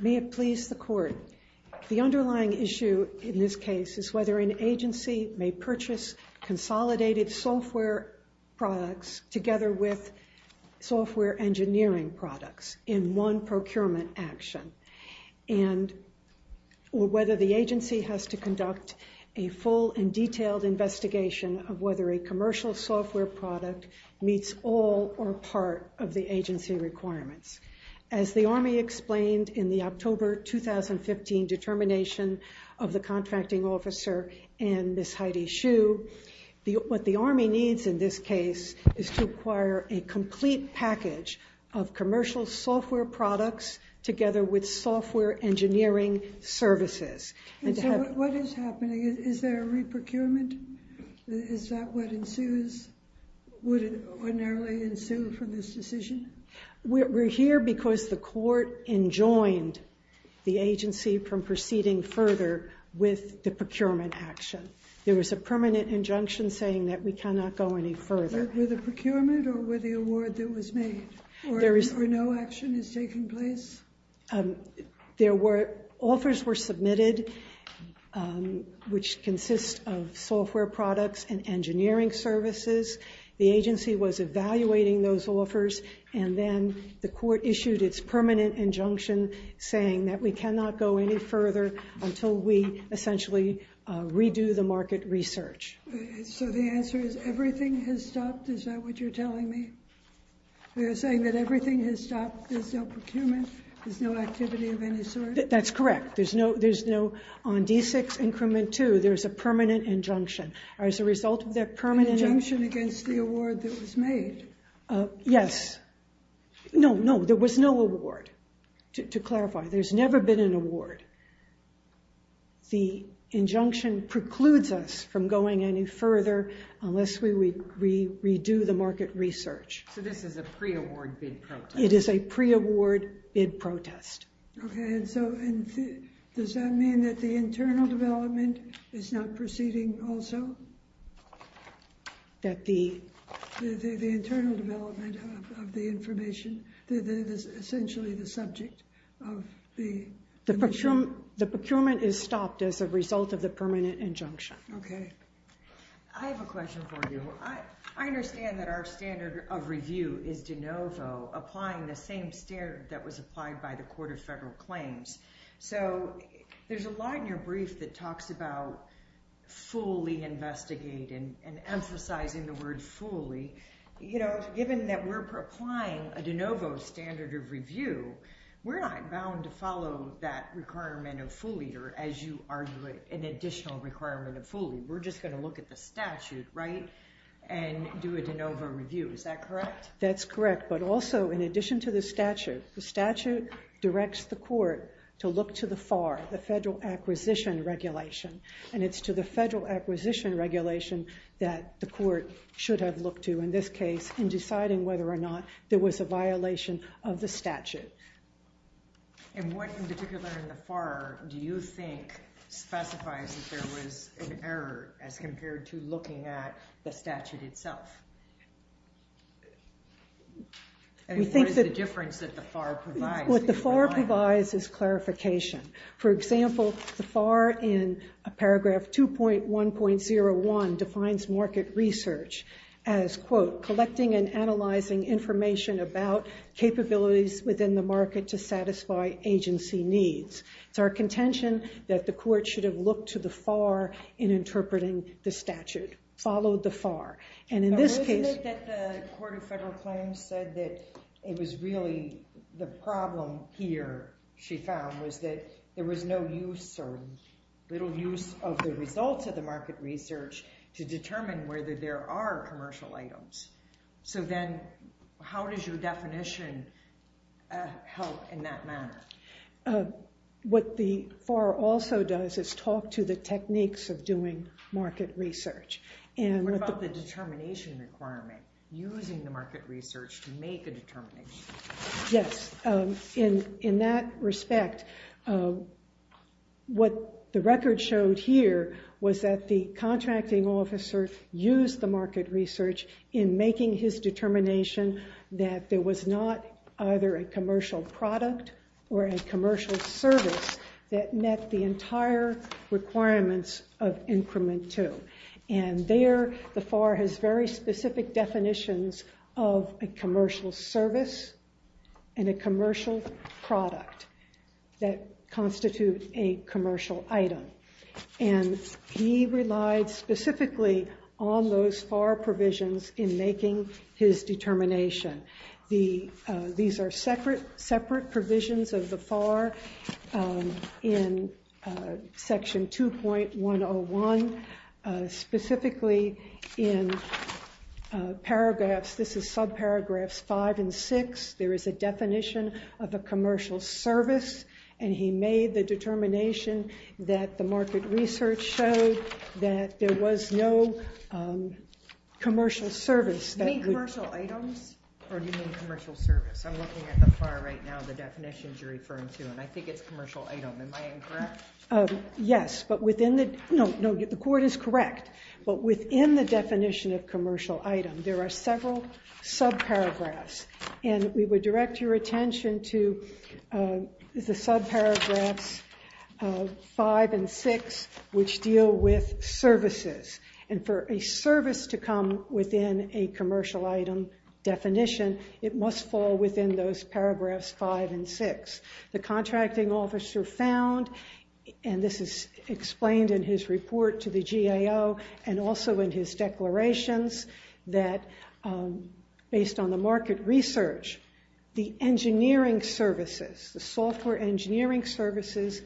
May it please the Court. The underlying issue in this case is whether an agency may purchase consolidated software products together with software engineering products in one procurement action, or whether the agency has to conduct a full and detailed investigation of whether a commercial software product meets all or part of the agency requirements. As the Army explained in the October 2015 determination of the contracting officer and Ms. Heidi Shue, what the Army needs in this case is to acquire a complete package of commercial software products together with software engineering services. And so what is happening? Is there a re-procurement? Is that what ensues? Would it ordinarily ensue from this decision? We're here because the Court enjoined the agency from proceeding further with the procurement action. There was a permanent injunction saying that we cannot go any further. With the procurement or with the award that was made? Or no action is taking place? Offers were submitted, which consist of software products and engineering services. The agency was evaluating those offers, and then the Court issued its permanent injunction saying that we cannot go any further until we essentially redo the market research. So the answer is everything has stopped? Is that what you're telling me? You're saying that everything has stopped? There's no procurement? There's no activity of any sort? That's correct. There's no—on D6 increment 2, there's a permanent injunction. As a result of that permanent— An injunction against the award that was made? Yes. No, no, there was no award. To clarify, there's never been an award. The injunction precludes us from going any further unless we redo the market research. So this is a pre-award bid protest? It is a pre-award bid protest. Okay, and so does that mean that the internal development is not proceeding also? That the— The internal development of the information—essentially the subject of the— The procurement is stopped as a result of the permanent injunction. Okay. I have a question for you. I understand that our standard of review is de novo, applying the same standard that was applied by the Court of Federal Claims. So there's a lot in your brief that talks about fully investigating and emphasizing the word fully. You know, given that we're applying a de novo standard of review, we're not bound to follow that requirement of fully or, as you argue, an additional requirement of fully. We're just going to look at the statute, right, and do a de novo review. Is that correct? That's correct. But also, in addition to the statute, the statute directs the court to look to the FAR, the Federal Acquisition Regulation. And it's to the Federal Acquisition Regulation that the court should have looked to, in this case, in deciding whether or not there was a violation of the statute. And what in particular in the FAR do you think specifies that there was an error as compared to looking at the statute itself? I mean, what is the difference that the FAR provides? What the FAR provides is clarification. For example, the FAR in paragraph 2.1.01 defines market research as, quote, collecting and analyzing information about capabilities within the market to satisfy agency needs. It's our contention that the court should have looked to the FAR in interpreting the statute, followed the FAR. But wasn't it that the Court of Federal Claims said that it was really the problem here, she found, was that there was no use or little use of the results of the market research to determine whether there are commercial items. So then how does your definition help in that manner? What the FAR also does is talk to the techniques of doing market research. What about the determination requirement, using the market research to make a determination? Yes. In that respect, what the record showed here was that the contracting officer used the market research in making his determination that there was not either a commercial product or a commercial service that met the entire requirements of increment two. And there, the FAR has very specific definitions of a commercial service and a commercial product that constitute a commercial item. And he relied specifically on those FAR provisions in making his determination. These are separate provisions of the FAR in Section 2.101. Specifically in paragraphs, this is subparagraphs 5 and 6, there is a definition of a commercial service. And he made the determination that the market research showed that there was no commercial service. Do you mean commercial items or do you mean commercial service? I'm looking at the FAR right now, the definitions you're referring to, and I think it's commercial item. Am I incorrect? Yes, but within the definition of commercial item, there are several subparagraphs. And we would direct your attention to the subparagraphs 5 and 6, which deal with services. And for a service to come within a commercial item definition, it must fall within those paragraphs 5 and 6. The contracting officer found, and this is explained in his report to the GAO and also in his declarations, that based on the market research, the engineering services, the software engineering services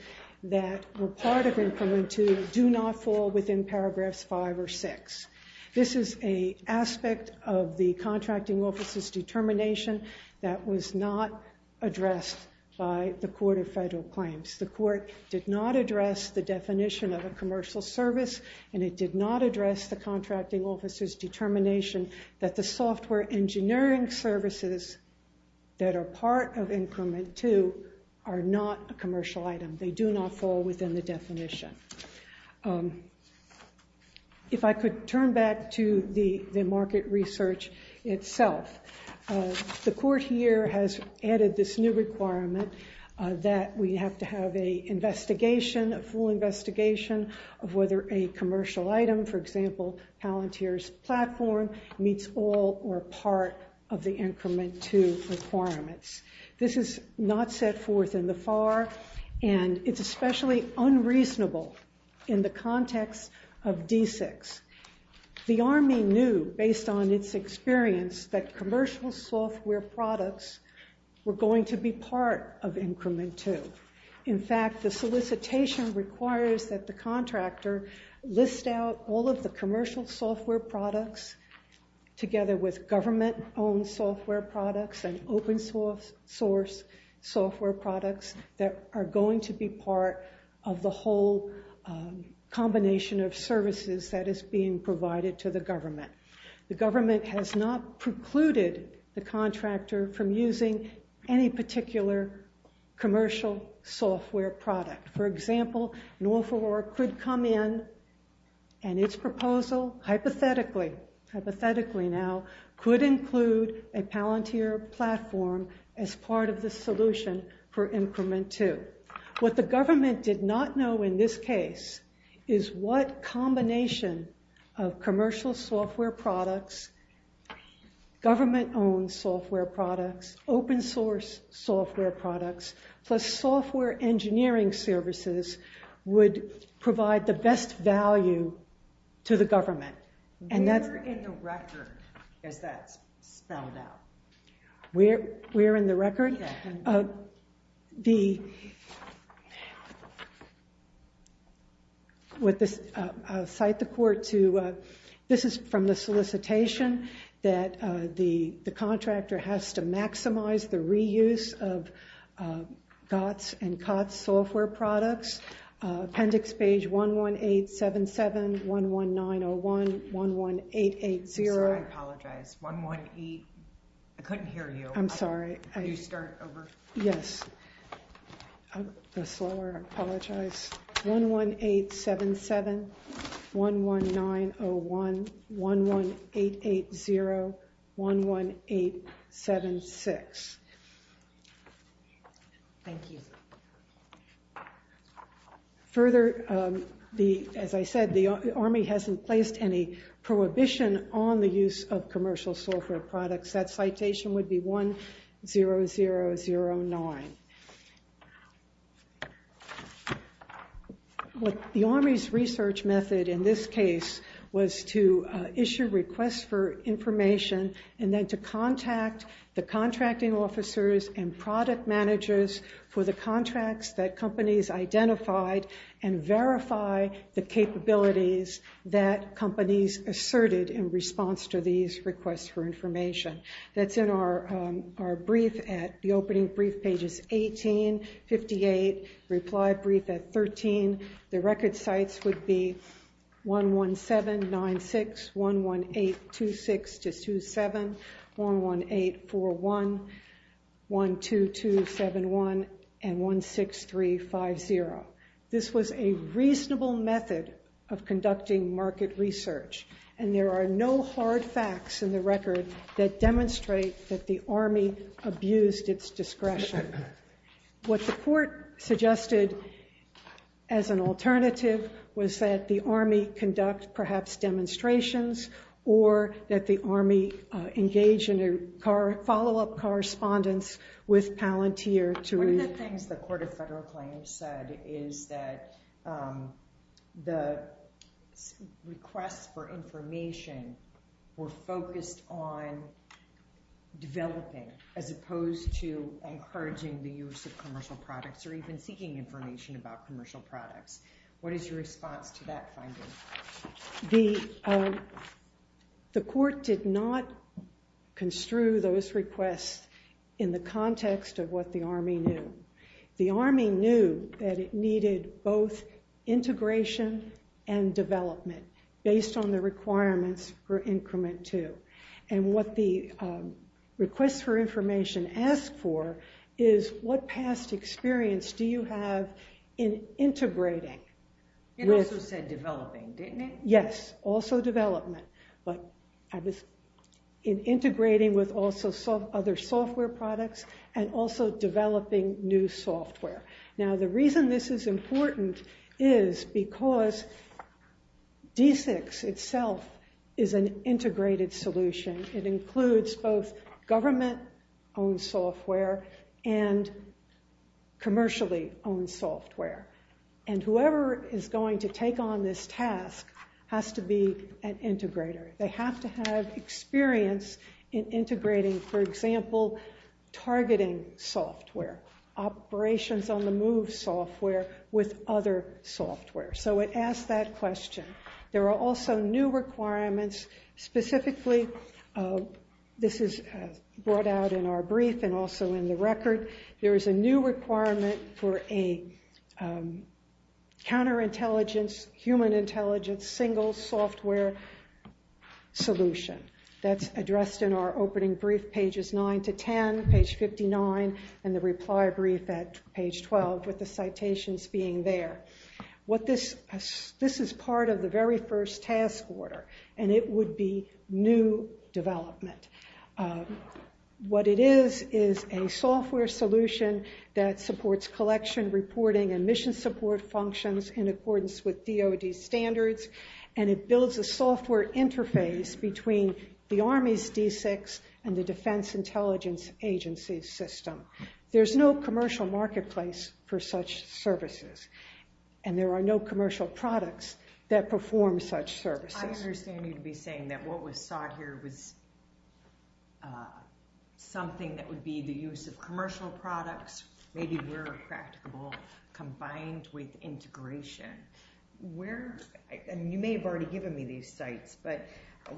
that were part of Increment 2 do not fall within paragraphs 5 or 6. This is an aspect of the contracting officer's determination that was not addressed by the Court of Federal Claims. The Court did not address the definition of a commercial service, and it did not address the contracting officer's determination that the software engineering services that are part of Increment 2 are not a commercial item. They do not fall within the definition. If I could turn back to the market research itself, the Court here has added this new requirement that we have to have a investigation, a full investigation, of whether a commercial item, for example, Palantir's platform, meets all or part of the Increment 2 requirements. This is not set forth in the FAR, and it's especially unreasonable in the context of D6. The Army knew, based on its experience, that commercial software products were going to be part of Increment 2. In fact, the solicitation requires that the contractor list out all of the commercial software products together with government-owned software products and open-source software products that are going to be part of the whole combination of services that is being provided to the government. The government has not precluded the contractor from using any particular commercial software product. For example, Norfolk could come in, and its proposal, hypothetically now, could include a Palantir platform as part of the solution for Increment 2. What the government did not know in this case is what combination of commercial software products, government-owned software products, open-source software products, plus software engineering services would provide the best value to the government. We're in the record, as that's spelled out. We're in the record? Yeah. I'll cite the court to, this is from the solicitation, that the contractor has to maximize the reuse of GOTS and COTS software products. Appendix page 11877, 11901, 11880. I'm sorry, I apologize. 118, I couldn't hear you. I'm sorry. Can you start over? Yes. I'm slower, I apologize. 11877, 11901, 11880, 11876. Thank you. Further, as I said, the Army hasn't placed any prohibition on the use of commercial software products. That citation would be 10009. The Army's research method in this case was to issue requests for information and then to contact the contracting officers and product managers for the contracts that companies identified and verify the capabilities that companies asserted in response to these requests for information. That's in our brief at the opening brief pages 18, 58, reply brief at 13. The record sites would be 11796, 11826-27, 11841, 12271, and 16350. This was a reasonable method of conducting market research, and there are no hard facts in the record that demonstrate that the Army abused its discretion. What the court suggested as an alternative was that the Army conduct perhaps demonstrations or that the Army engage in a follow-up correspondence with Palantir to read. One of the things the Court of Federal Claims said is that the requests for information were focused on developing as opposed to encouraging the use of commercial products or even seeking information about commercial products. What is your response to that finding? The court did not construe those requests in the context of what the Army knew. The Army knew that it needed both integration and development based on the requirements for Increment 2. What the requests for information ask for is what past experience do you have in integrating? It also said developing, didn't it? Yes, also development, but in integrating with other software products and also developing new software. Now, the reason this is important is because D6 itself is an integrated solution. It includes both government-owned software and commercially-owned software, and whoever is going to take on this task has to be an integrator. They have to have experience in integrating, for example, targeting software, operations-on-the-move software, with other software. So it asked that question. There are also new requirements. Specifically, this is brought out in our brief and also in the record, there is a new requirement for a counterintelligence, human intelligence, single software solution. That's addressed in our opening brief, pages 9 to 10, page 59, and the reply brief at page 12, with the citations being there. This is part of the very first task order, and it would be new development. What it is is a software solution that supports collection, reporting, and mission support functions in accordance with DOD standards, and it builds a software interface between the Army's D6 and the Defense Intelligence Agency's system. There's no commercial marketplace for such services, and there are no commercial products that perform such services. I understand you'd be saying that what was sought here was something that would be the use of commercial products. Maybe we're a practicable combined with integration. You may have already given me these sites, but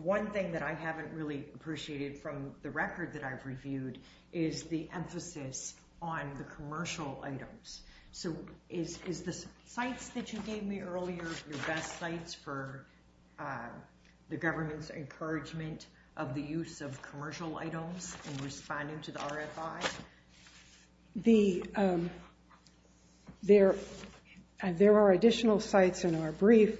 one thing that I haven't really appreciated from the record that I've reviewed is the emphasis on the commercial items. So is the sites that you gave me earlier your best sites for the government's encouragement of the use of commercial items in responding to the RFI? There are additional sites in our brief.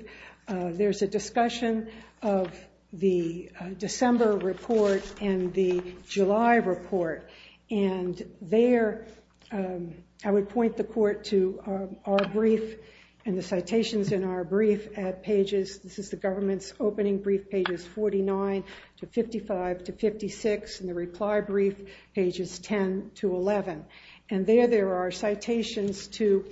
There's a discussion of the December report and the July report, and there I would point the court to our brief and the citations in our brief at pages This is the government's opening brief, pages 49 to 55 to 56, and the reply brief, pages 10 to 11. And there there are citations to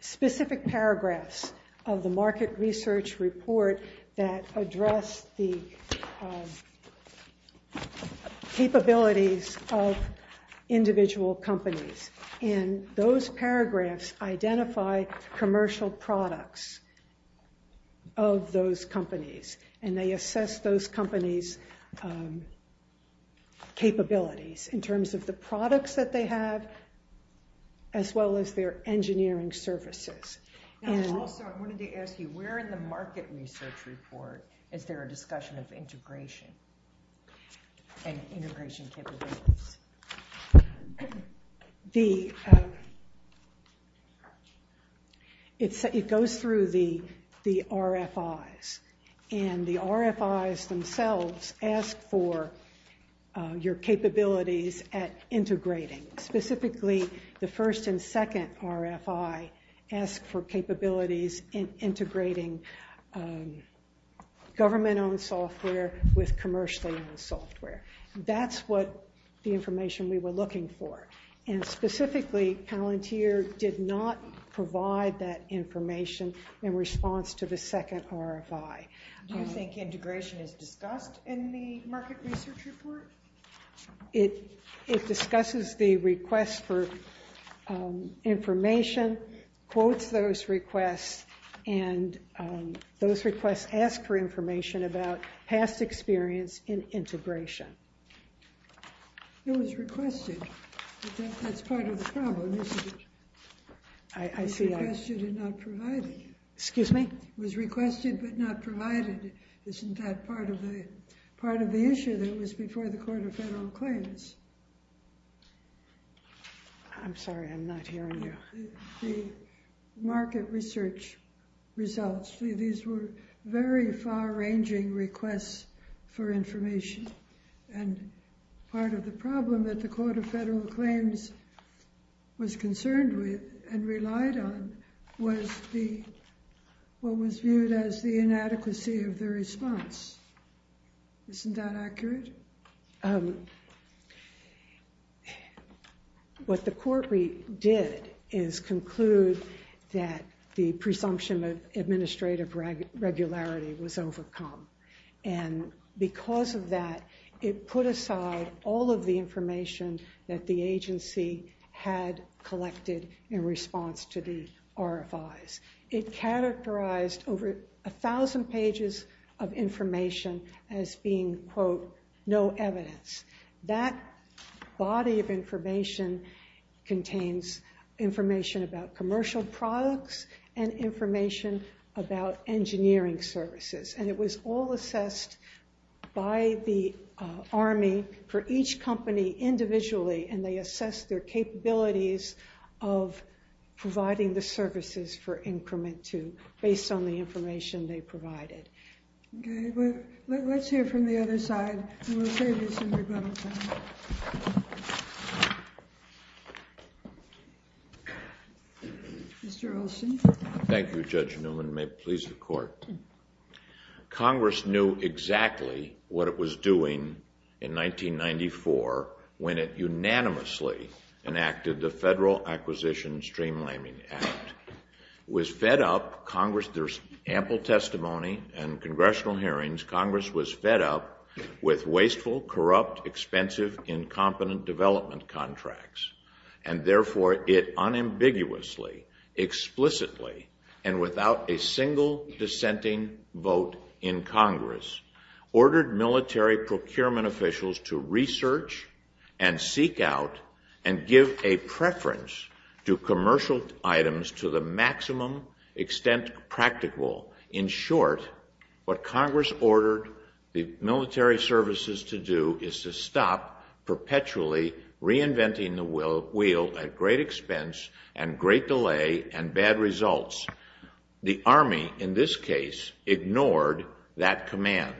specific paragraphs of the market research report that address the capabilities of individual companies. And those paragraphs identify commercial products of those companies, and they assess those companies' capabilities in terms of the products that they have as well as their engineering services. Also, I wanted to ask you, where in the market research report is there a discussion of integration and integration capabilities? It goes through the RFIs, and the RFIs themselves ask for your capabilities at integrating. Specifically, the first and second RFI ask for capabilities in integrating government-owned software with commercially-owned software. That's what the information we were looking for. And specifically, Palantir did not provide that information in response to the second RFI. Do you think integration is discussed in the market research report? It discusses the request for information, quotes those requests, and those requests ask for information about past experience in integration. It was requested, but that's part of the problem, isn't it? I see. It was requested and not provided. Excuse me? It was requested but not provided. Isn't that part of the issue that was before the Court of Federal Claims? I'm sorry, I'm not hearing you. The market research results, these were very far-ranging requests for information. And part of the problem that the Court of Federal Claims was concerned with and relied on was what was viewed as the inadequacy of the response. Isn't that accurate? What the Court did is conclude that the presumption of administrative regularity was overcome. And because of that, it put aside all of the information that the agency had collected in response to the RFIs. It characterized over 1,000 pages of information as being, quote, no evidence. That body of information contains information about commercial products and information about engineering services. And it was all assessed by the Army for each company individually, and they assessed their capabilities of providing the services for increment to, based on the information they provided. Okay. Let's hear from the other side, and we'll save you some rebuttal time. Mr. Olson? Thank you, Judge Newman. May it please the Court. Congress knew exactly what it was doing in 1994 when it unanimously enacted the Federal Acquisition Streamlining Act. It was fed up, Congress, there's ample testimony and congressional hearings, Congress was fed up with wasteful, corrupt, expensive, incompetent development contracts. And therefore, it unambiguously, explicitly, and without a single dissenting vote in Congress, ordered military procurement officials to research and seek out and give a preference to commercial items to the maximum extent practical. In short, what Congress ordered the military services to do is to stop perpetually reinventing the wheel at great expense and great delay and bad results. The Army, in this case, ignored that command.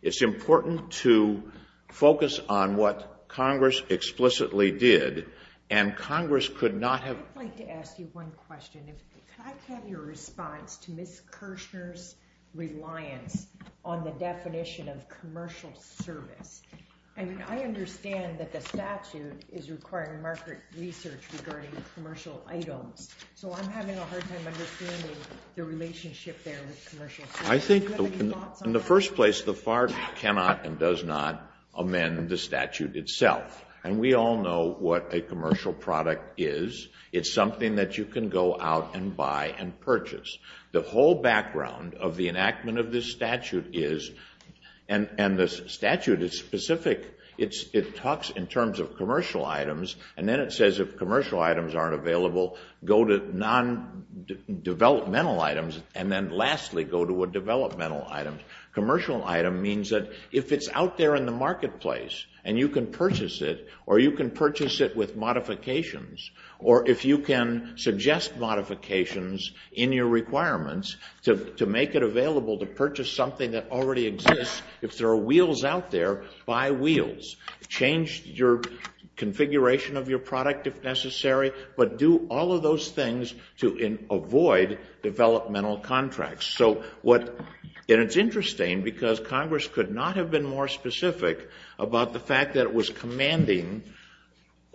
It's important to focus on what Congress explicitly did, and Congress could not have... I'd like to ask you one question. Could I have your response to Ms. Kirshner's reliance on the definition of commercial service? I mean, I understand that the statute is requiring market research regarding commercial items, so I'm having a hard time understanding the relationship there with commercial services. Do you have any thoughts on that? I think, in the first place, the FARC cannot and does not amend the statute itself. And we all know what a commercial product is. It's something that you can go out and buy and purchase. The whole background of the enactment of this statute is, and the statute is specific, it talks in terms of commercial items, and then it says if commercial items aren't available, go to non-developmental items, and then lastly go to a developmental item. Commercial item means that if it's out there in the marketplace and you can purchase it, or you can purchase it with modifications, or if you can suggest modifications in your requirements to make it available to purchase something that already exists, if there are wheels out there, buy wheels. Change your configuration of your product if necessary, but do all of those things to avoid developmental contracts. And it's interesting because Congress could not have been more specific about the fact that it was commanding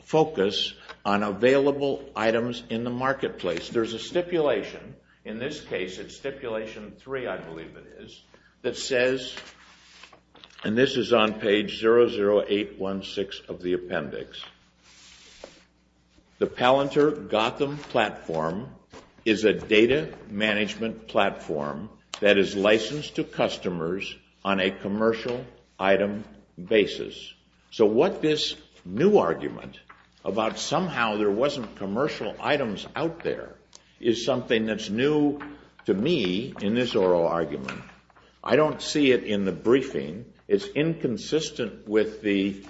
focus on available items in the marketplace. There's a stipulation, in this case it's Stipulation 3, I believe it is, that says, and this is on page 00816 of the appendix, the Palantir-Gotham platform is a data management platform that is licensed to customers on a commercial item basis. So what this new argument about somehow there wasn't commercial items out there is something that's new to me in this oral argument. I don't see it in the briefing. It's inconsistent with the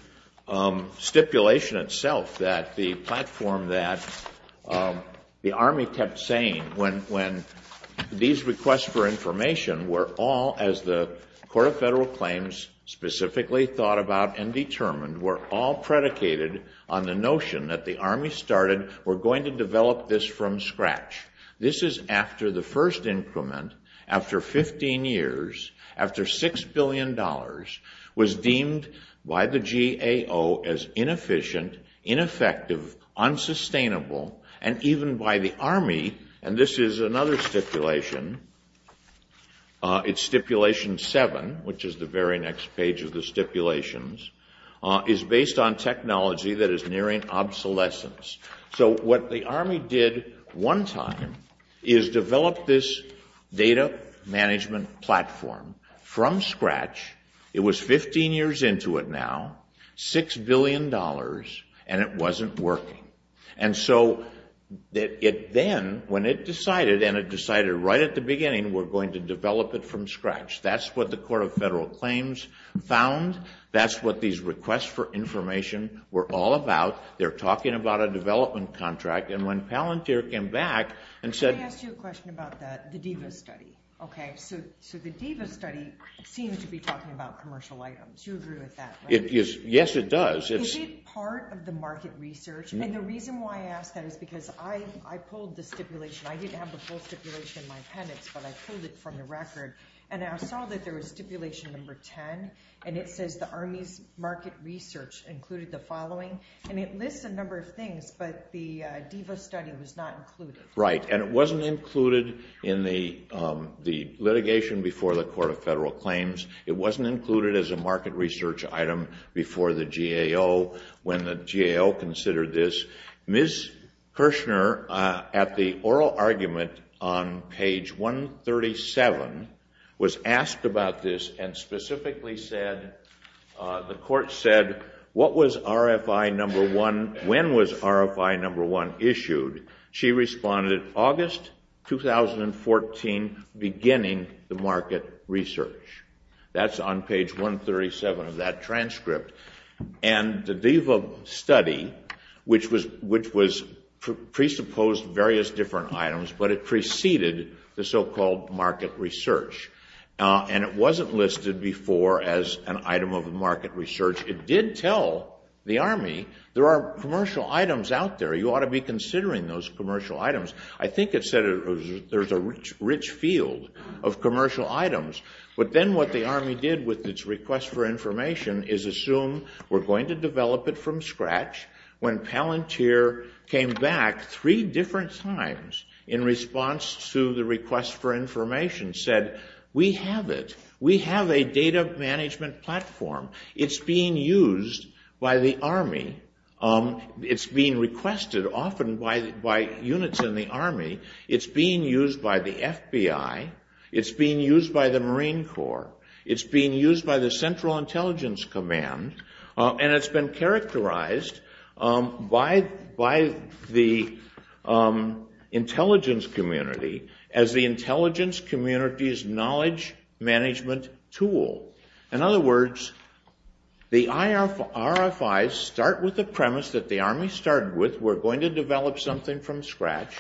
stipulation itself that the platform that the Army kept saying when these requests for information were all, as the Court of Federal Claims specifically thought about and determined, were all predicated on the notion that the Army started, we're going to develop this from scratch. This is after the first increment, after 15 years, after $6 billion, was deemed by the GAO as inefficient, ineffective, unsustainable, and even by the Army, and this is another stipulation, it's Stipulation 7, which is the very next page of the stipulations, is based on technology that is nearing obsolescence. So what the Army did one time is develop this data management platform from scratch. It was 15 years into it now, $6 billion, and it wasn't working. And so it then, when it decided, and it decided right at the beginning, we're going to develop it from scratch. That's what the Court of Federal Claims found. That's what these requests for information were all about. They're talking about a development contract, and when Palantir came back and said— I asked you a question about that, the DIVA study. Okay, so the DIVA study seemed to be talking about commercial items. You agree with that, right? Yes, it does. Is it part of the market research? And the reason why I ask that is because I pulled the stipulation. I didn't have the full stipulation in my appendix, but I pulled it from the record, and I saw that there was Stipulation Number 10, and it says the Army's market research included the following, and it lists a number of things, but the DIVA study was not included. Right, and it wasn't included in the litigation before the Court of Federal Claims. It wasn't included as a market research item before the GAO, when the GAO considered this. Ms. Kirshner, at the oral argument on page 137, was asked about this and specifically said, the Court said, when was RFI Number 1 issued? She responded, August 2014, beginning the market research. That's on page 137 of that transcript. And the DIVA study, which presupposed various different items, but it preceded the so-called market research, and it wasn't listed before as an item of market research. It did tell the Army, there are commercial items out there. You ought to be considering those commercial items. I think it said there's a rich field of commercial items, but then what the Army did with its request for information is assume we're going to develop it from scratch. When Palantir came back three different times in response to the request for information, he said, we have it. We have a data management platform. It's being used by the Army. It's being requested often by units in the Army. It's being used by the FBI. It's being used by the Marine Corps. It's being used by the Central Intelligence Command. And it's been characterized by the intelligence community as the intelligence community's knowledge management tool. In other words, the RFIs start with the premise that the Army started with, we're going to develop something from scratch.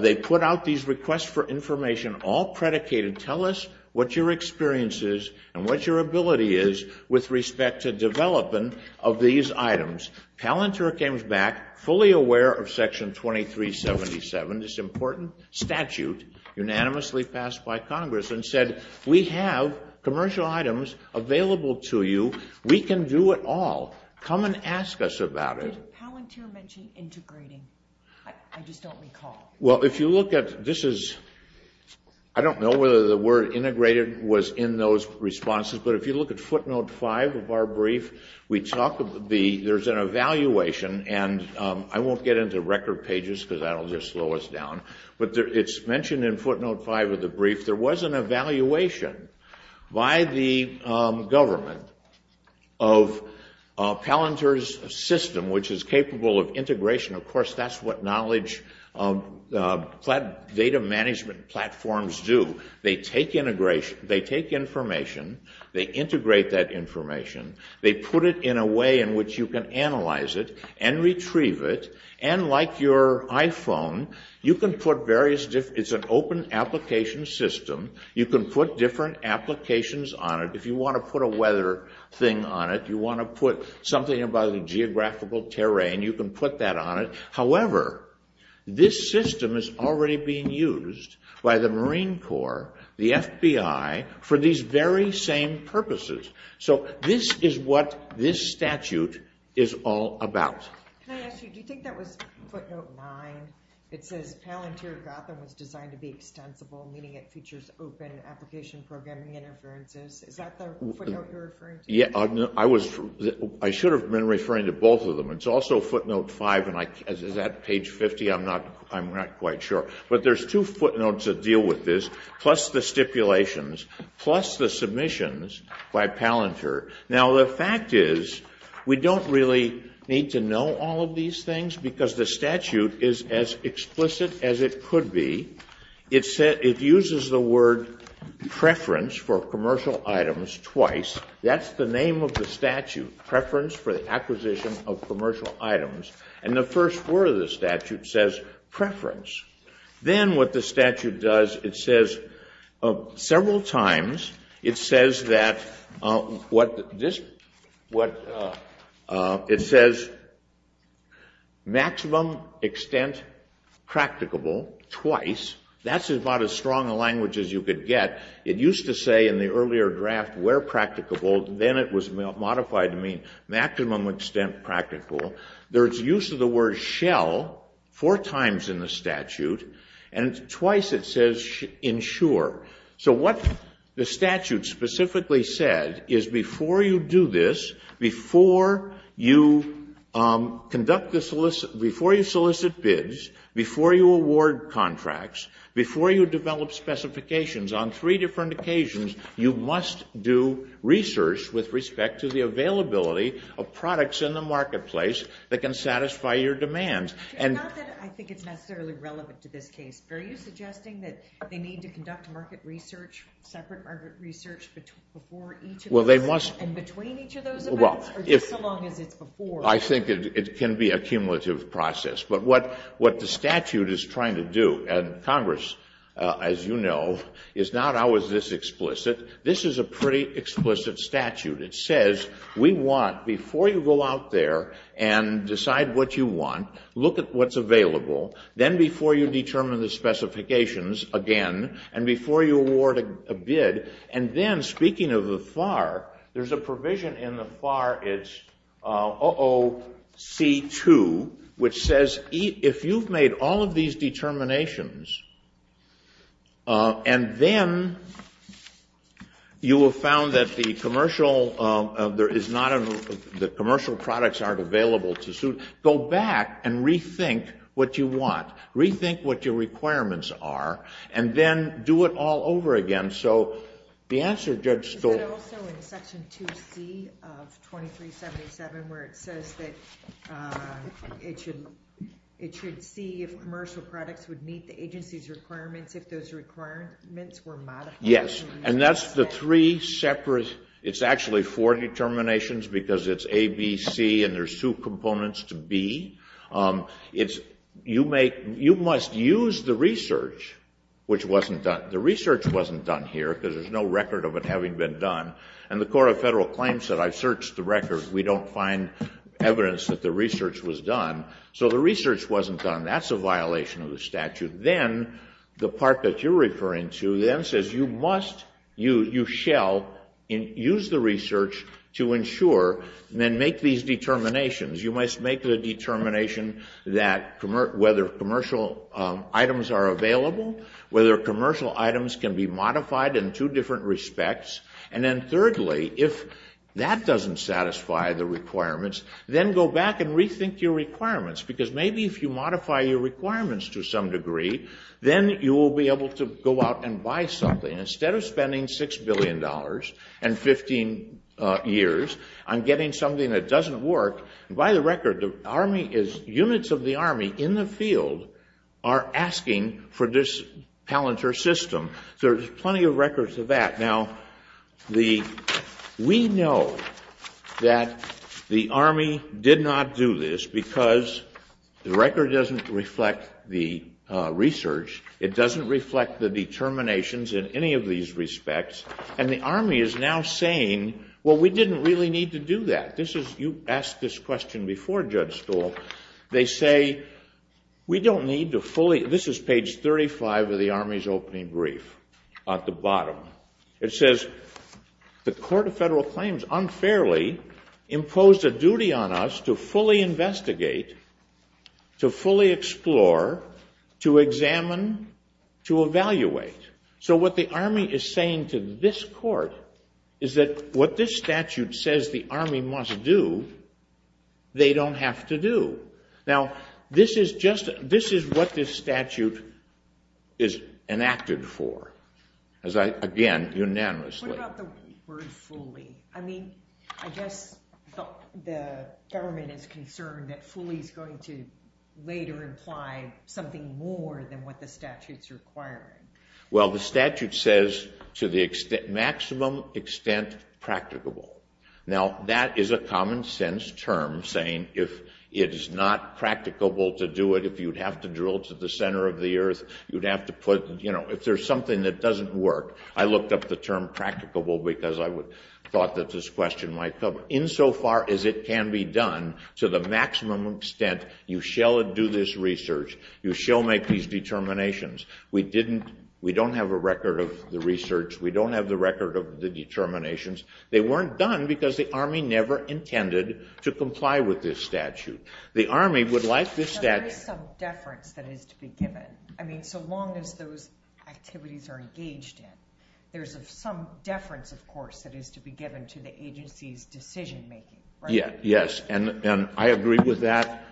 They put out these requests for information, all predicated, tell us what your experience is and what your ability is with respect to development of these items. Palantir came back fully aware of Section 2377, this important statute, unanimously passed by Congress and said, we have commercial items available to you. We can do it all. Come and ask us about it. Did Palantir mention integrating? I just don't recall. Well, if you look at this, I don't know whether the word integrated was in those responses, but if you look at footnote 5 of our brief, there's an evaluation, and I won't get into record pages because that will just slow us down, but it's mentioned in footnote 5 of the brief, there was an evaluation by the government of Palantir's system, which is capable of integration. Of course, that's what knowledge data management platforms do. They take information, they integrate that information, they put it in a way in which you can analyze it and retrieve it, and like your iPhone, it's an open application system, you can put different applications on it. If you want to put a weather thing on it, you want to put something about the geographical terrain, you can put that on it. However, this system is already being used by the Marine Corps, the FBI, for these very same purposes. So this is what this statute is all about. Can I ask you, do you think that was footnote 9? It says Palantir Gotham was designed to be extensible, meaning it features open application programming interferences. Is that the footnote you're referring to? I should have been referring to both of them. It's also footnote 5, and is that page 50? I'm not quite sure. But there's two footnotes that deal with this, plus the stipulations, plus the submissions by Palantir. Now, the fact is we don't really need to know all of these things because the statute is as explicit as it could be. It uses the word preference for commercial items twice. That's the name of the statute, preference for the acquisition of commercial items. And the first word of the statute says preference. Then what the statute does, it says several times, it says maximum extent practicable twice. That's about as strong a language as you could get. It used to say in the earlier draft where practicable, then it was modified to mean maximum extent practicable. There's use of the word shall four times in the statute, and twice it says ensure. So what the statute specifically said is before you do this, before you conduct the solicit, before you solicit bids, before you award contracts, before you develop specifications on three different occasions, you must do research with respect to the availability of products in the marketplace that can satisfy your demands. And not that I think it's necessarily relevant to this case, but are you suggesting that they need to conduct market research, separate market research before each of those, and between each of those events, or just so long as it's before? I think it can be a cumulative process. But what the statute is trying to do, and Congress, as you know, is not always this explicit. This is a pretty explicit statute. It says we want, before you go out there and decide what you want, look at what's available. Then before you determine the specifications again, and before you award a bid, and then speaking of the FAR, there's a provision in the FAR, it's OOC2, which says if you've made all of these determinations, and then you have found that the commercial products aren't available to suit, go back and rethink what you want. Rethink what your requirements are, and then do it all over again. Is that also in Section 2C of 2377 where it says that it should see if commercial products would meet the agency's requirements if those requirements were modified? Yes, and that's the three separate, it's actually four determinations, because it's A, B, C, and there's two components to B. You must use the research which wasn't done. The research wasn't done here because there's no record of it having been done, and the Court of Federal Claims said I've searched the record. We don't find evidence that the research was done, so the research wasn't done. That's a violation of the statute. Then the part that you're referring to then says you must, you shall use the research to ensure and then make these determinations. You must make the determination that whether commercial items are available, whether commercial items can be modified in two different respects, and then thirdly, if that doesn't satisfy the requirements, then go back and rethink your requirements, because maybe if you modify your requirements to some degree, then you will be able to go out and buy something. Instead of spending $6 billion and 15 years on getting something that doesn't work, units of the Army in the field are asking for this Palantir system. There's plenty of records of that. Now, we know that the Army did not do this because the record doesn't reflect the research. It doesn't reflect the determinations in any of these respects, and the Army is now saying, well, we didn't really need to do that. You asked this question before, Judge Stuhl. They say, we don't need to fully. This is page 35 of the Army's opening brief at the bottom. It says, the Court of Federal Claims unfairly imposed a duty on us to fully investigate, to fully explore, to examine, to evaluate. So what the Army is saying to this Court is that what this statute says the Army must do, they don't have to do. Now, this is what this statute is enacted for, again, unanimously. What about the word fully? I mean, I guess the government is concerned that fully is going to later imply something more than what the statute's requiring. Well, the statute says to the maximum extent practicable. Now, that is a common-sense term saying if it is not practicable to do it, if you'd have to drill to the center of the earth, you'd have to put, you know, if there's something that doesn't work. I looked up the term practicable because I thought that this question might cover it. Insofar as it can be done to the maximum extent, you shall do this research, you shall make these determinations. We don't have a record of the research. We don't have the record of the determinations. They weren't done because the Army never intended to comply with this statute. The Army would like this statute to be done. There is some deference that is to be given. I mean, so long as those activities are engaged in. There's some deference, of course, that is to be given to the agency's decision-making. Yes, and I agree with that.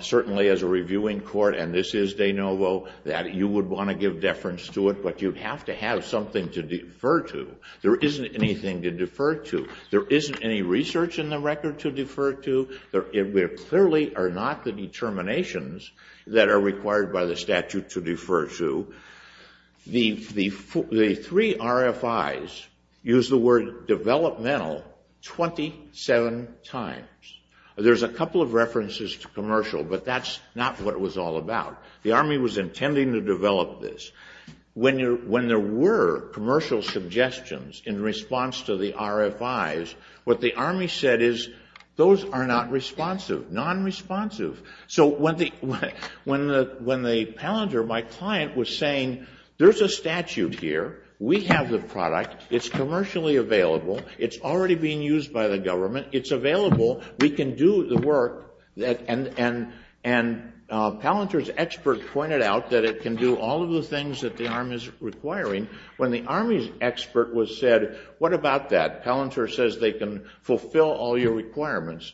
Certainly as a reviewing court, and this is de novo, that you would want to give deference to it, but you'd have to have something to defer to. There isn't anything to defer to. There isn't any research in the record to defer to. There clearly are not the determinations that are required by the statute to defer to. The three RFIs use the word developmental 27 times. There's a couple of references to commercial, but that's not what it was all about. The Army was intending to develop this. When there were commercial suggestions in response to the RFIs, what the Army said is those are not responsive, non-responsive. So when the Palantir, my client, was saying, there's a statute here. We have the product. It's commercially available. It's already being used by the government. It's available. We can do the work. And Palantir's expert pointed out that it can do all of the things that the Army is requiring. When the Army's expert was said, what about that? Palantir says they can fulfill all your requirements.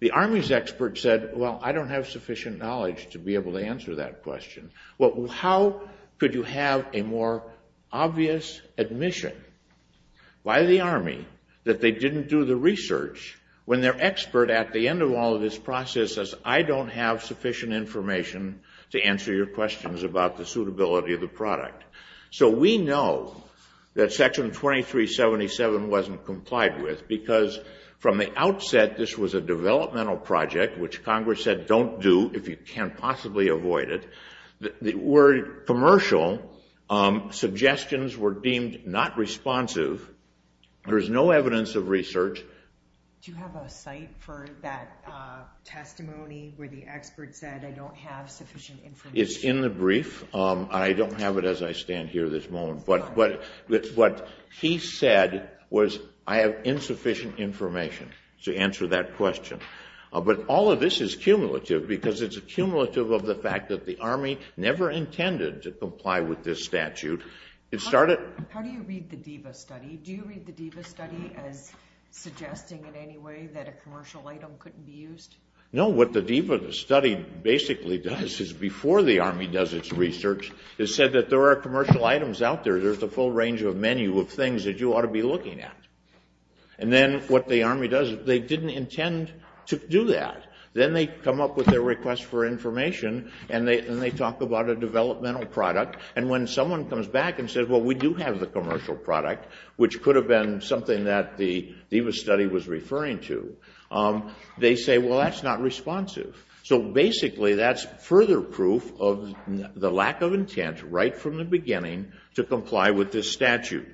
The Army's expert said, well, I don't have sufficient knowledge to be able to answer that question. Well, how could you have a more obvious admission by the Army that they didn't do the research when their expert at the end of all of this process says, I don't have sufficient information to answer your questions about the suitability of the product. So we know that Section 2377 wasn't complied with because from the outset this was a developmental project, which Congress said don't do if you can't possibly avoid it. The word commercial suggestions were deemed not responsive. There's no evidence of research. Do you have a site for that testimony where the expert said, I don't have sufficient information? It's in the brief. I don't have it as I stand here at this moment. But what he said was I have insufficient information to answer that question. But all of this is cumulative because it's a cumulative of the fact that the Army never intended to comply with this statute. How do you read the DEVA study? Do you read the DEVA study as suggesting in any way that a commercial item couldn't be used? No, what the DEVA study basically does is before the Army does its research, it said that there are commercial items out there. There's a full range of menu of things that you ought to be looking at. And then what the Army does, they didn't intend to do that. Then they come up with their request for information and they talk about a developmental product. And when someone comes back and says, well, we do have the commercial product, which could have been something that the DEVA study was referring to, they say, well, that's not responsive. So basically that's further proof of the lack of intent right from the beginning to comply with this statute.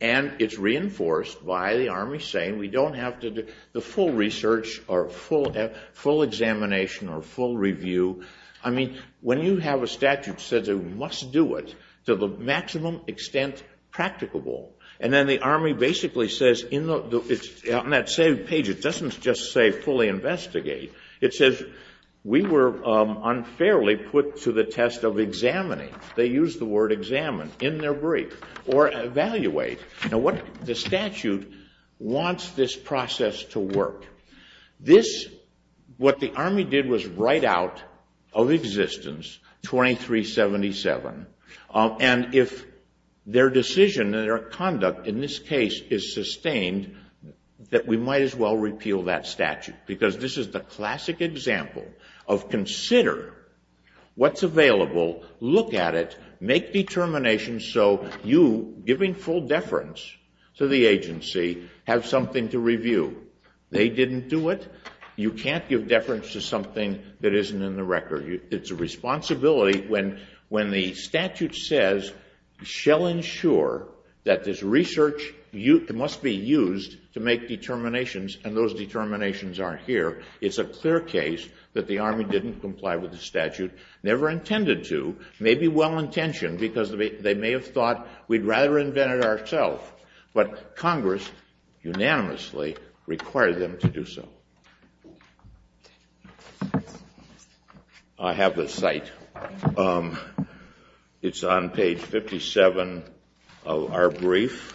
And it's reinforced by the Army saying we don't have to do the full research or full examination or full review. I mean, when you have a statute that says you must do it to the maximum extent practicable, and then the Army basically says on that same page, it doesn't just say fully investigate. It says we were unfairly put to the test of examining. They use the word examine in their brief or evaluate. Now, the statute wants this process to work. This, what the Army did was write out of existence 2377. And if their decision and their conduct in this case is sustained, that we might as well repeal that statute because this is the classic example of consider what's available, look at it, make determinations so you, giving full deference to the agency, have something to review. They didn't do it. You can't give deference to something that isn't in the record. It's a responsibility when the statute says we shall ensure that this research must be used to make determinations, and those determinations are here. It's a clear case that the Army didn't comply with the statute, never intended to, maybe well-intentioned because they may have thought we'd rather invent it ourselves. But Congress unanimously required them to do so. I have the site. It's on page 57 of our brief.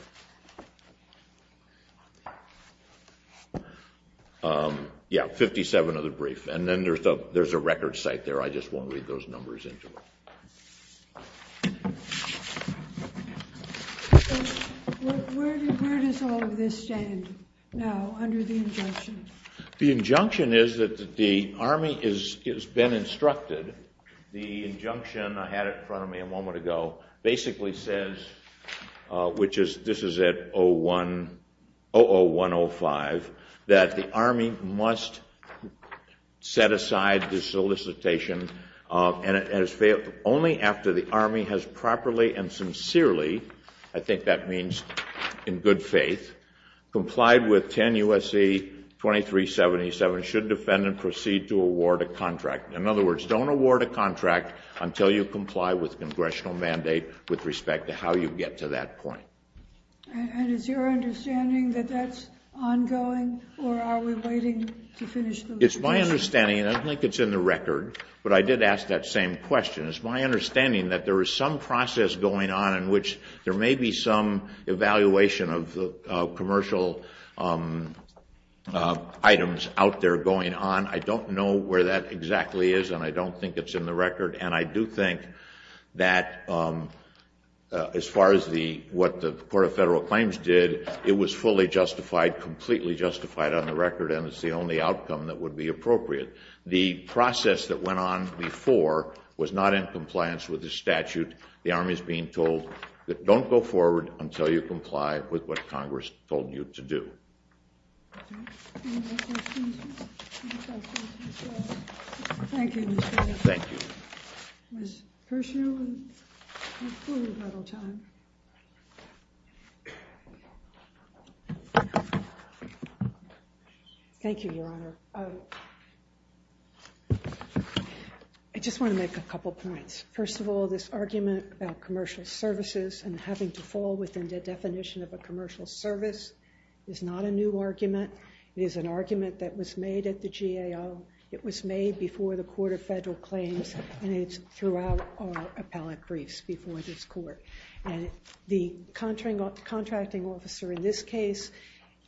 Yeah, 57 of the brief. And then there's a record site there. I just won't read those numbers into it. Where does all of this stand now under the injunction? The injunction is that the Army has been instructed. The injunction I had in front of me a moment ago basically says, which is this is at 00105, that the Army must set aside the solicitation only after the Army has properly and sincerely, I think that means in good faith, complied with 10 U.S.C. 2377 should defendant proceed to award a contract. In other words, don't award a contract until you comply with congressional mandate with respect to how you get to that point. And is your understanding that that's ongoing, or are we waiting to finish the report? It's my understanding, and I don't think it's in the record, but I did ask that same question. It's my understanding that there is some process going on in which there may be some evaluation of commercial items out there going on. I don't know where that exactly is, and I don't think it's in the record. And I do think that as far as what the Court of Federal Claims did, it was fully justified, completely justified on the record, and it's the only outcome that would be appropriate. The process that went on before was not in compliance with the statute. The Army is being told that don't go forward until you comply with what Congress told you to do. Any more questions? Any questions? Thank you, Mr. Chairman. Thank you. Ms. Pershew, we have plenty of time. Thank you, Your Honor. I just want to make a couple points. First of all, this argument about commercial services and having to fall within the definition of a commercial service is not a new argument. It is an argument that was made at the GAO. It was made before the Court of Federal Claims, and it's throughout our appellate briefs before this Court. And the contracting officer in this case,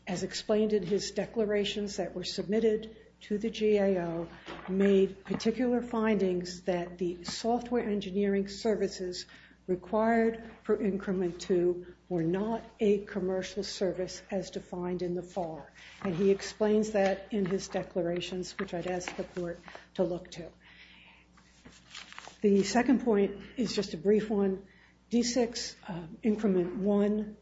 as explained in his declarations that were submitted to the GAO, made particular findings that the software engineering services required for Increment 2 were not a commercial service as defined in the FAR. And he explains that in his declarations, which I'd ask the Court to look to. The second point is just a brief one. D6, Increment 1,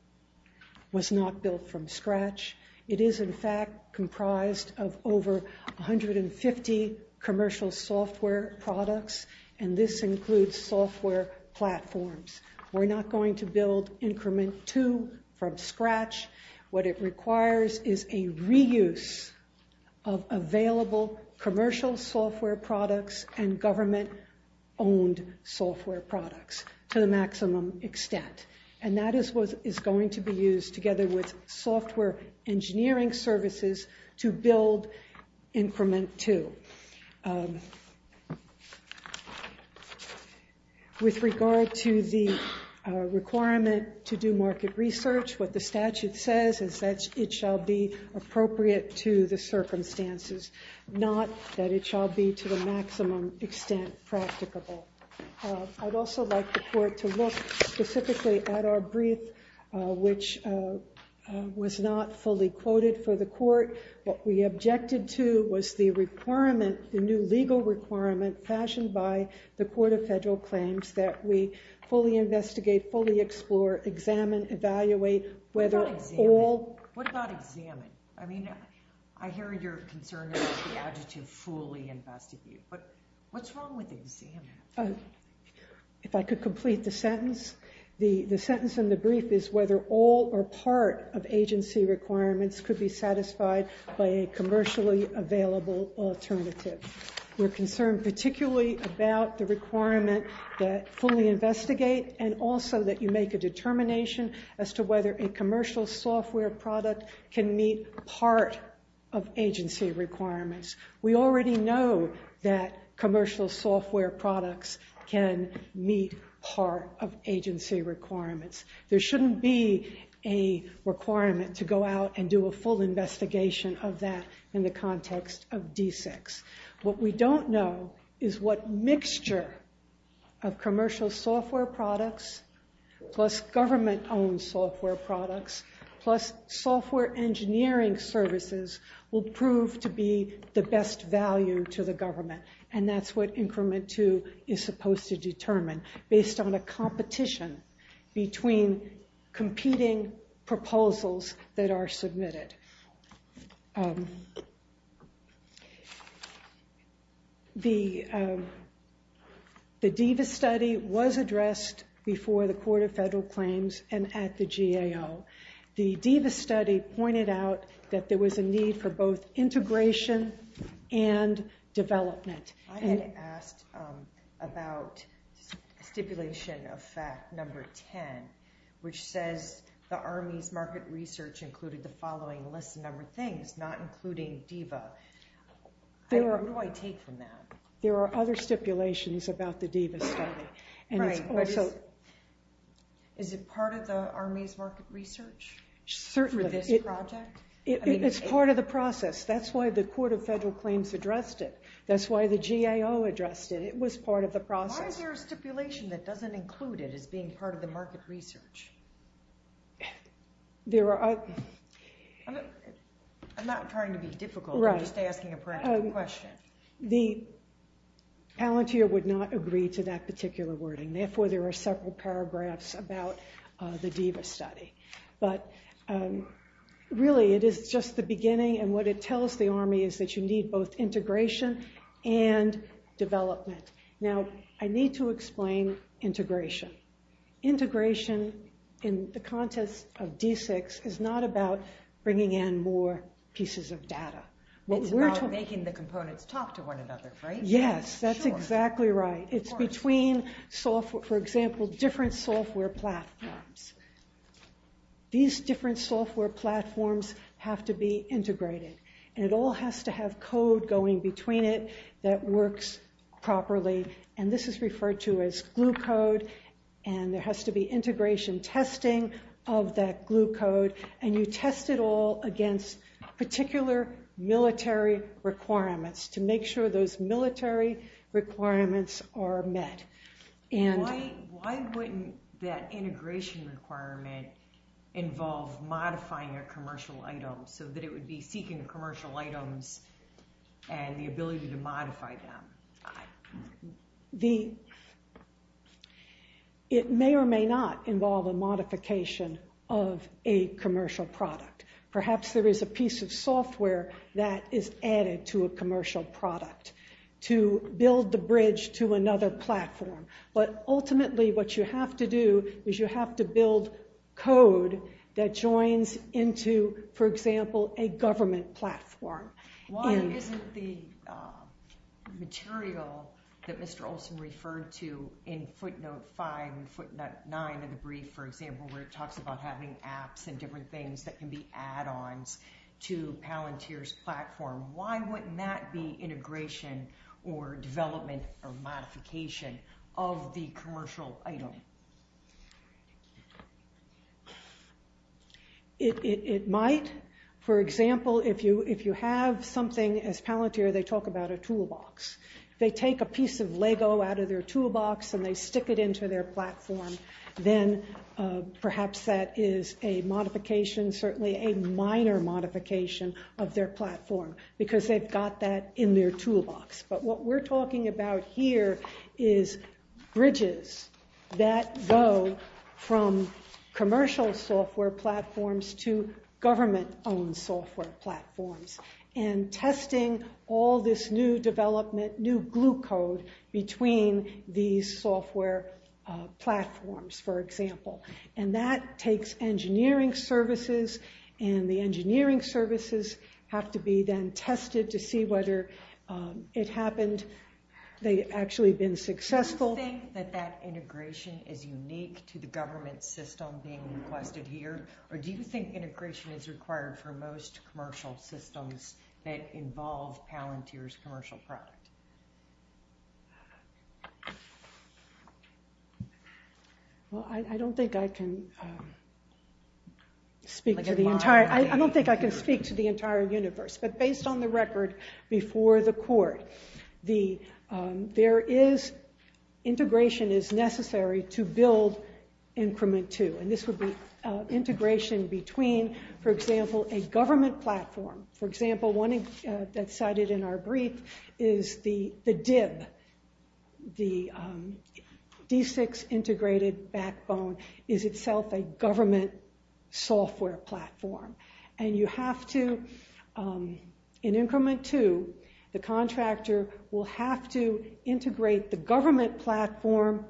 was not built from scratch. It is, in fact, comprised of over 150 commercial software products, and this includes software platforms. We're not going to build Increment 2 from scratch. What it requires is a reuse of available commercial software products and government-owned software products to the maximum extent. And that is what is going to be used together with software engineering services to build Increment 2. With regard to the requirement to do market research, what the statute says is that it shall be appropriate to the circumstances, not that it shall be to the maximum extent practicable. I'd also like the Court to look specifically at our brief, which was not fully quoted for the Court. What we objected to was the requirement, the new legal requirement fashioned by the Court of Federal Claims, that we fully investigate, fully explore, examine, evaluate whether all- What about examine? I mean, I hear your concern about the adjective fully investigate. But what's wrong with examine? If I could complete the sentence. The sentence in the brief is whether all or part of agency requirements could be satisfied by a commercially available alternative. We're concerned particularly about the requirement that fully investigate, and also that you make a determination as to whether a commercial software product can meet part of agency requirements. We already know that commercial software products can meet part of agency requirements. There shouldn't be a requirement to go out and do a full investigation of that in the context of D6. What we don't know is what mixture of commercial software products plus government-owned software products plus software engineering services will prove to be the best value to the government. And that's what increment two is supposed to determine, based on a competition between competing proposals that are submitted. The DIVA study was addressed before the Court of Federal Claims and at the GAO. The DIVA study pointed out that there was a need for both integration and development. I had asked about stipulation of fact number 10, which says the Army's market research included the following list of number of things, not including DIVA. Where do I take from that? There are other stipulations about the DIVA study. Is it part of the Army's market research for this project? It's part of the process. That's why the Court of Federal Claims addressed it. That's why the GAO addressed it. It was part of the process. Why is there a stipulation that doesn't include it as being part of the market research? I'm not trying to be difficult. I'm just asking a practical question. The Palantir would not agree to that particular wording. Therefore, there are several paragraphs about the DIVA study. But really, it is just the beginning. And what it tells the Army is that you need both integration and development. Now, I need to explain integration. Integration in the context of D6 is not about bringing in more pieces of data. It's about making the components talk to one another, right? Yes, that's exactly right. It's between, for example, different software platforms. These different software platforms have to be integrated. And it all has to have code going between it that works properly. And this is referred to as glue code. And there has to be integration testing of that glue code. And you test it all against particular military requirements to make sure those military requirements are met. Why wouldn't that integration requirement involve modifying a commercial item so that it would be seeking commercial items and the ability to modify them? It may or may not involve a modification of a commercial product. Perhaps there is a piece of software that is added to a commercial product to build the bridge to another platform. But ultimately, what you have to do is you have to build code that joins into, for example, a government platform. Why isn't the material that Mr. Olson referred to in footnote 5 and footnote 9 of the brief, for example, where it talks about having apps and different things that can be add-ons to Palantir's platform, why wouldn't that be integration or development or modification of the commercial item? It might. For example, if you have something as Palantir, they talk about a toolbox. They take a piece of Lego out of their toolbox and they stick it into their platform, then perhaps that is a modification, certainly a minor modification of their platform because they've got that in their toolbox. But what we're talking about here is bridges that go from commercial software platforms to government-owned software platforms and testing all this new development, new glue code between these software platforms, for example. And that takes engineering services, and the engineering services have to be then tested to see whether it happened. They've actually been successful. Do you think that that integration is unique to the government system being requested here, or do you think integration is required for most commercial systems that involve Palantir's commercial product? Well, I don't think I can speak to the entire universe, but based on the record before the court, integration is necessary to build increment two, and this would be integration between, for example, a government platform. For example, one that's cited in our brief is the DIB. The D6 Integrated Backbone is itself a government software platform, and you have to, in increment two, the contractor will have to integrate the government platform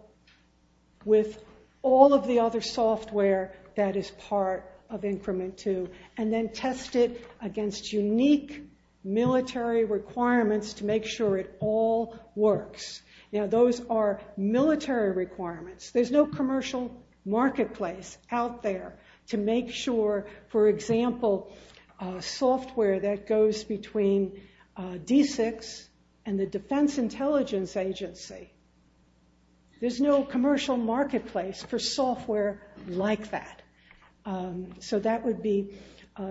with all of the other software that is part of increment two and then test it against unique military requirements to make sure it all works. Now, those are military requirements. There's no commercial marketplace out there to make sure, for example, software that goes between D6 and the Defense Intelligence Agency. There's no commercial marketplace for software like that. So that would be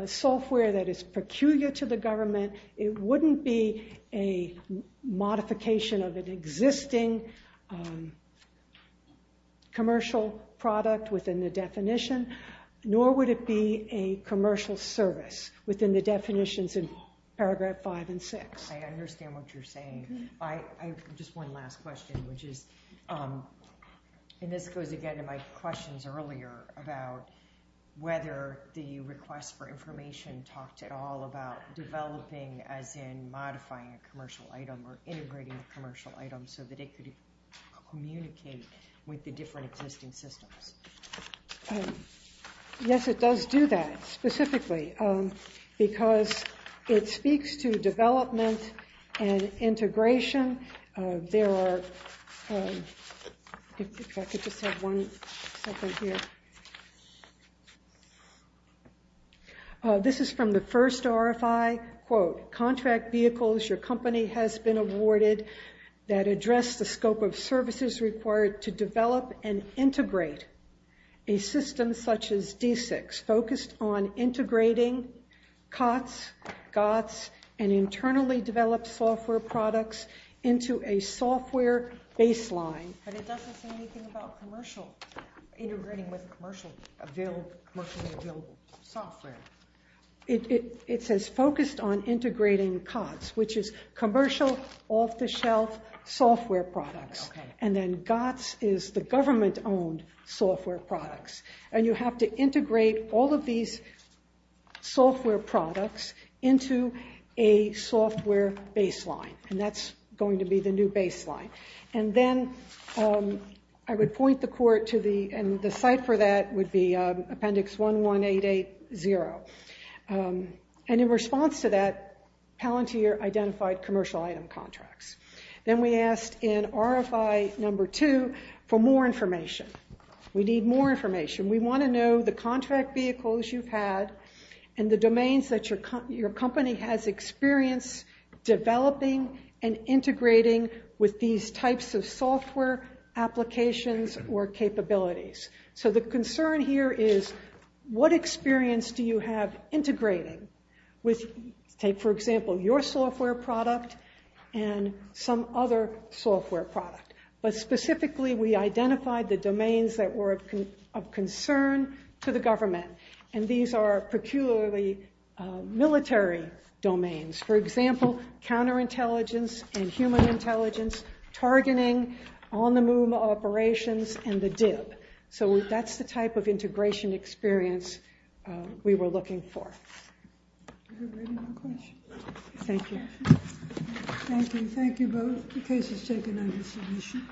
software that is peculiar to the government. It wouldn't be a modification of an existing commercial product within the definition, nor would it be a commercial service within the definitions in paragraph five and six. I understand what you're saying. I have just one last question, which is, and this goes again to my questions earlier about whether the request for information talked at all about developing as in modifying a commercial item or integrating a commercial item so that it could communicate with the different existing systems. Yes, it does do that specifically because it speaks to development and integration. There are, if I could just have one separate here. This is from the first RFI, quote, contract vehicles your company has been awarded that address the scope of services required to develop and integrate a system such as D6 focused on integrating COTS, and internally developed software products into a software baseline. But it doesn't say anything about commercial, integrating with commercially available software. It says focused on integrating COTS, which is commercial, off-the-shelf software products. And then GOTS is the government-owned software products. And you have to integrate all of these software products into a software baseline, and that's going to be the new baseline. And then I would point the court to the, and the site for that would be appendix 11880. And in response to that, Palantir identified commercial item contracts. Then we asked in RFI number two for more information. We need more information. We want to know the contract vehicles you've had and the domains that your company has experience developing and integrating with these types of software applications or capabilities. So the concern here is what experience do you have integrating with, say, for example, your software product and some other software product. But specifically, we identified the domains that were of concern to the government, and these are peculiarly military domains. For example, counterintelligence and human intelligence, targeting, on-the-move operations, and the DIP. So that's the type of integration experience we were looking for. Thank you. Thank you. Thank you both. The case is taken under submission.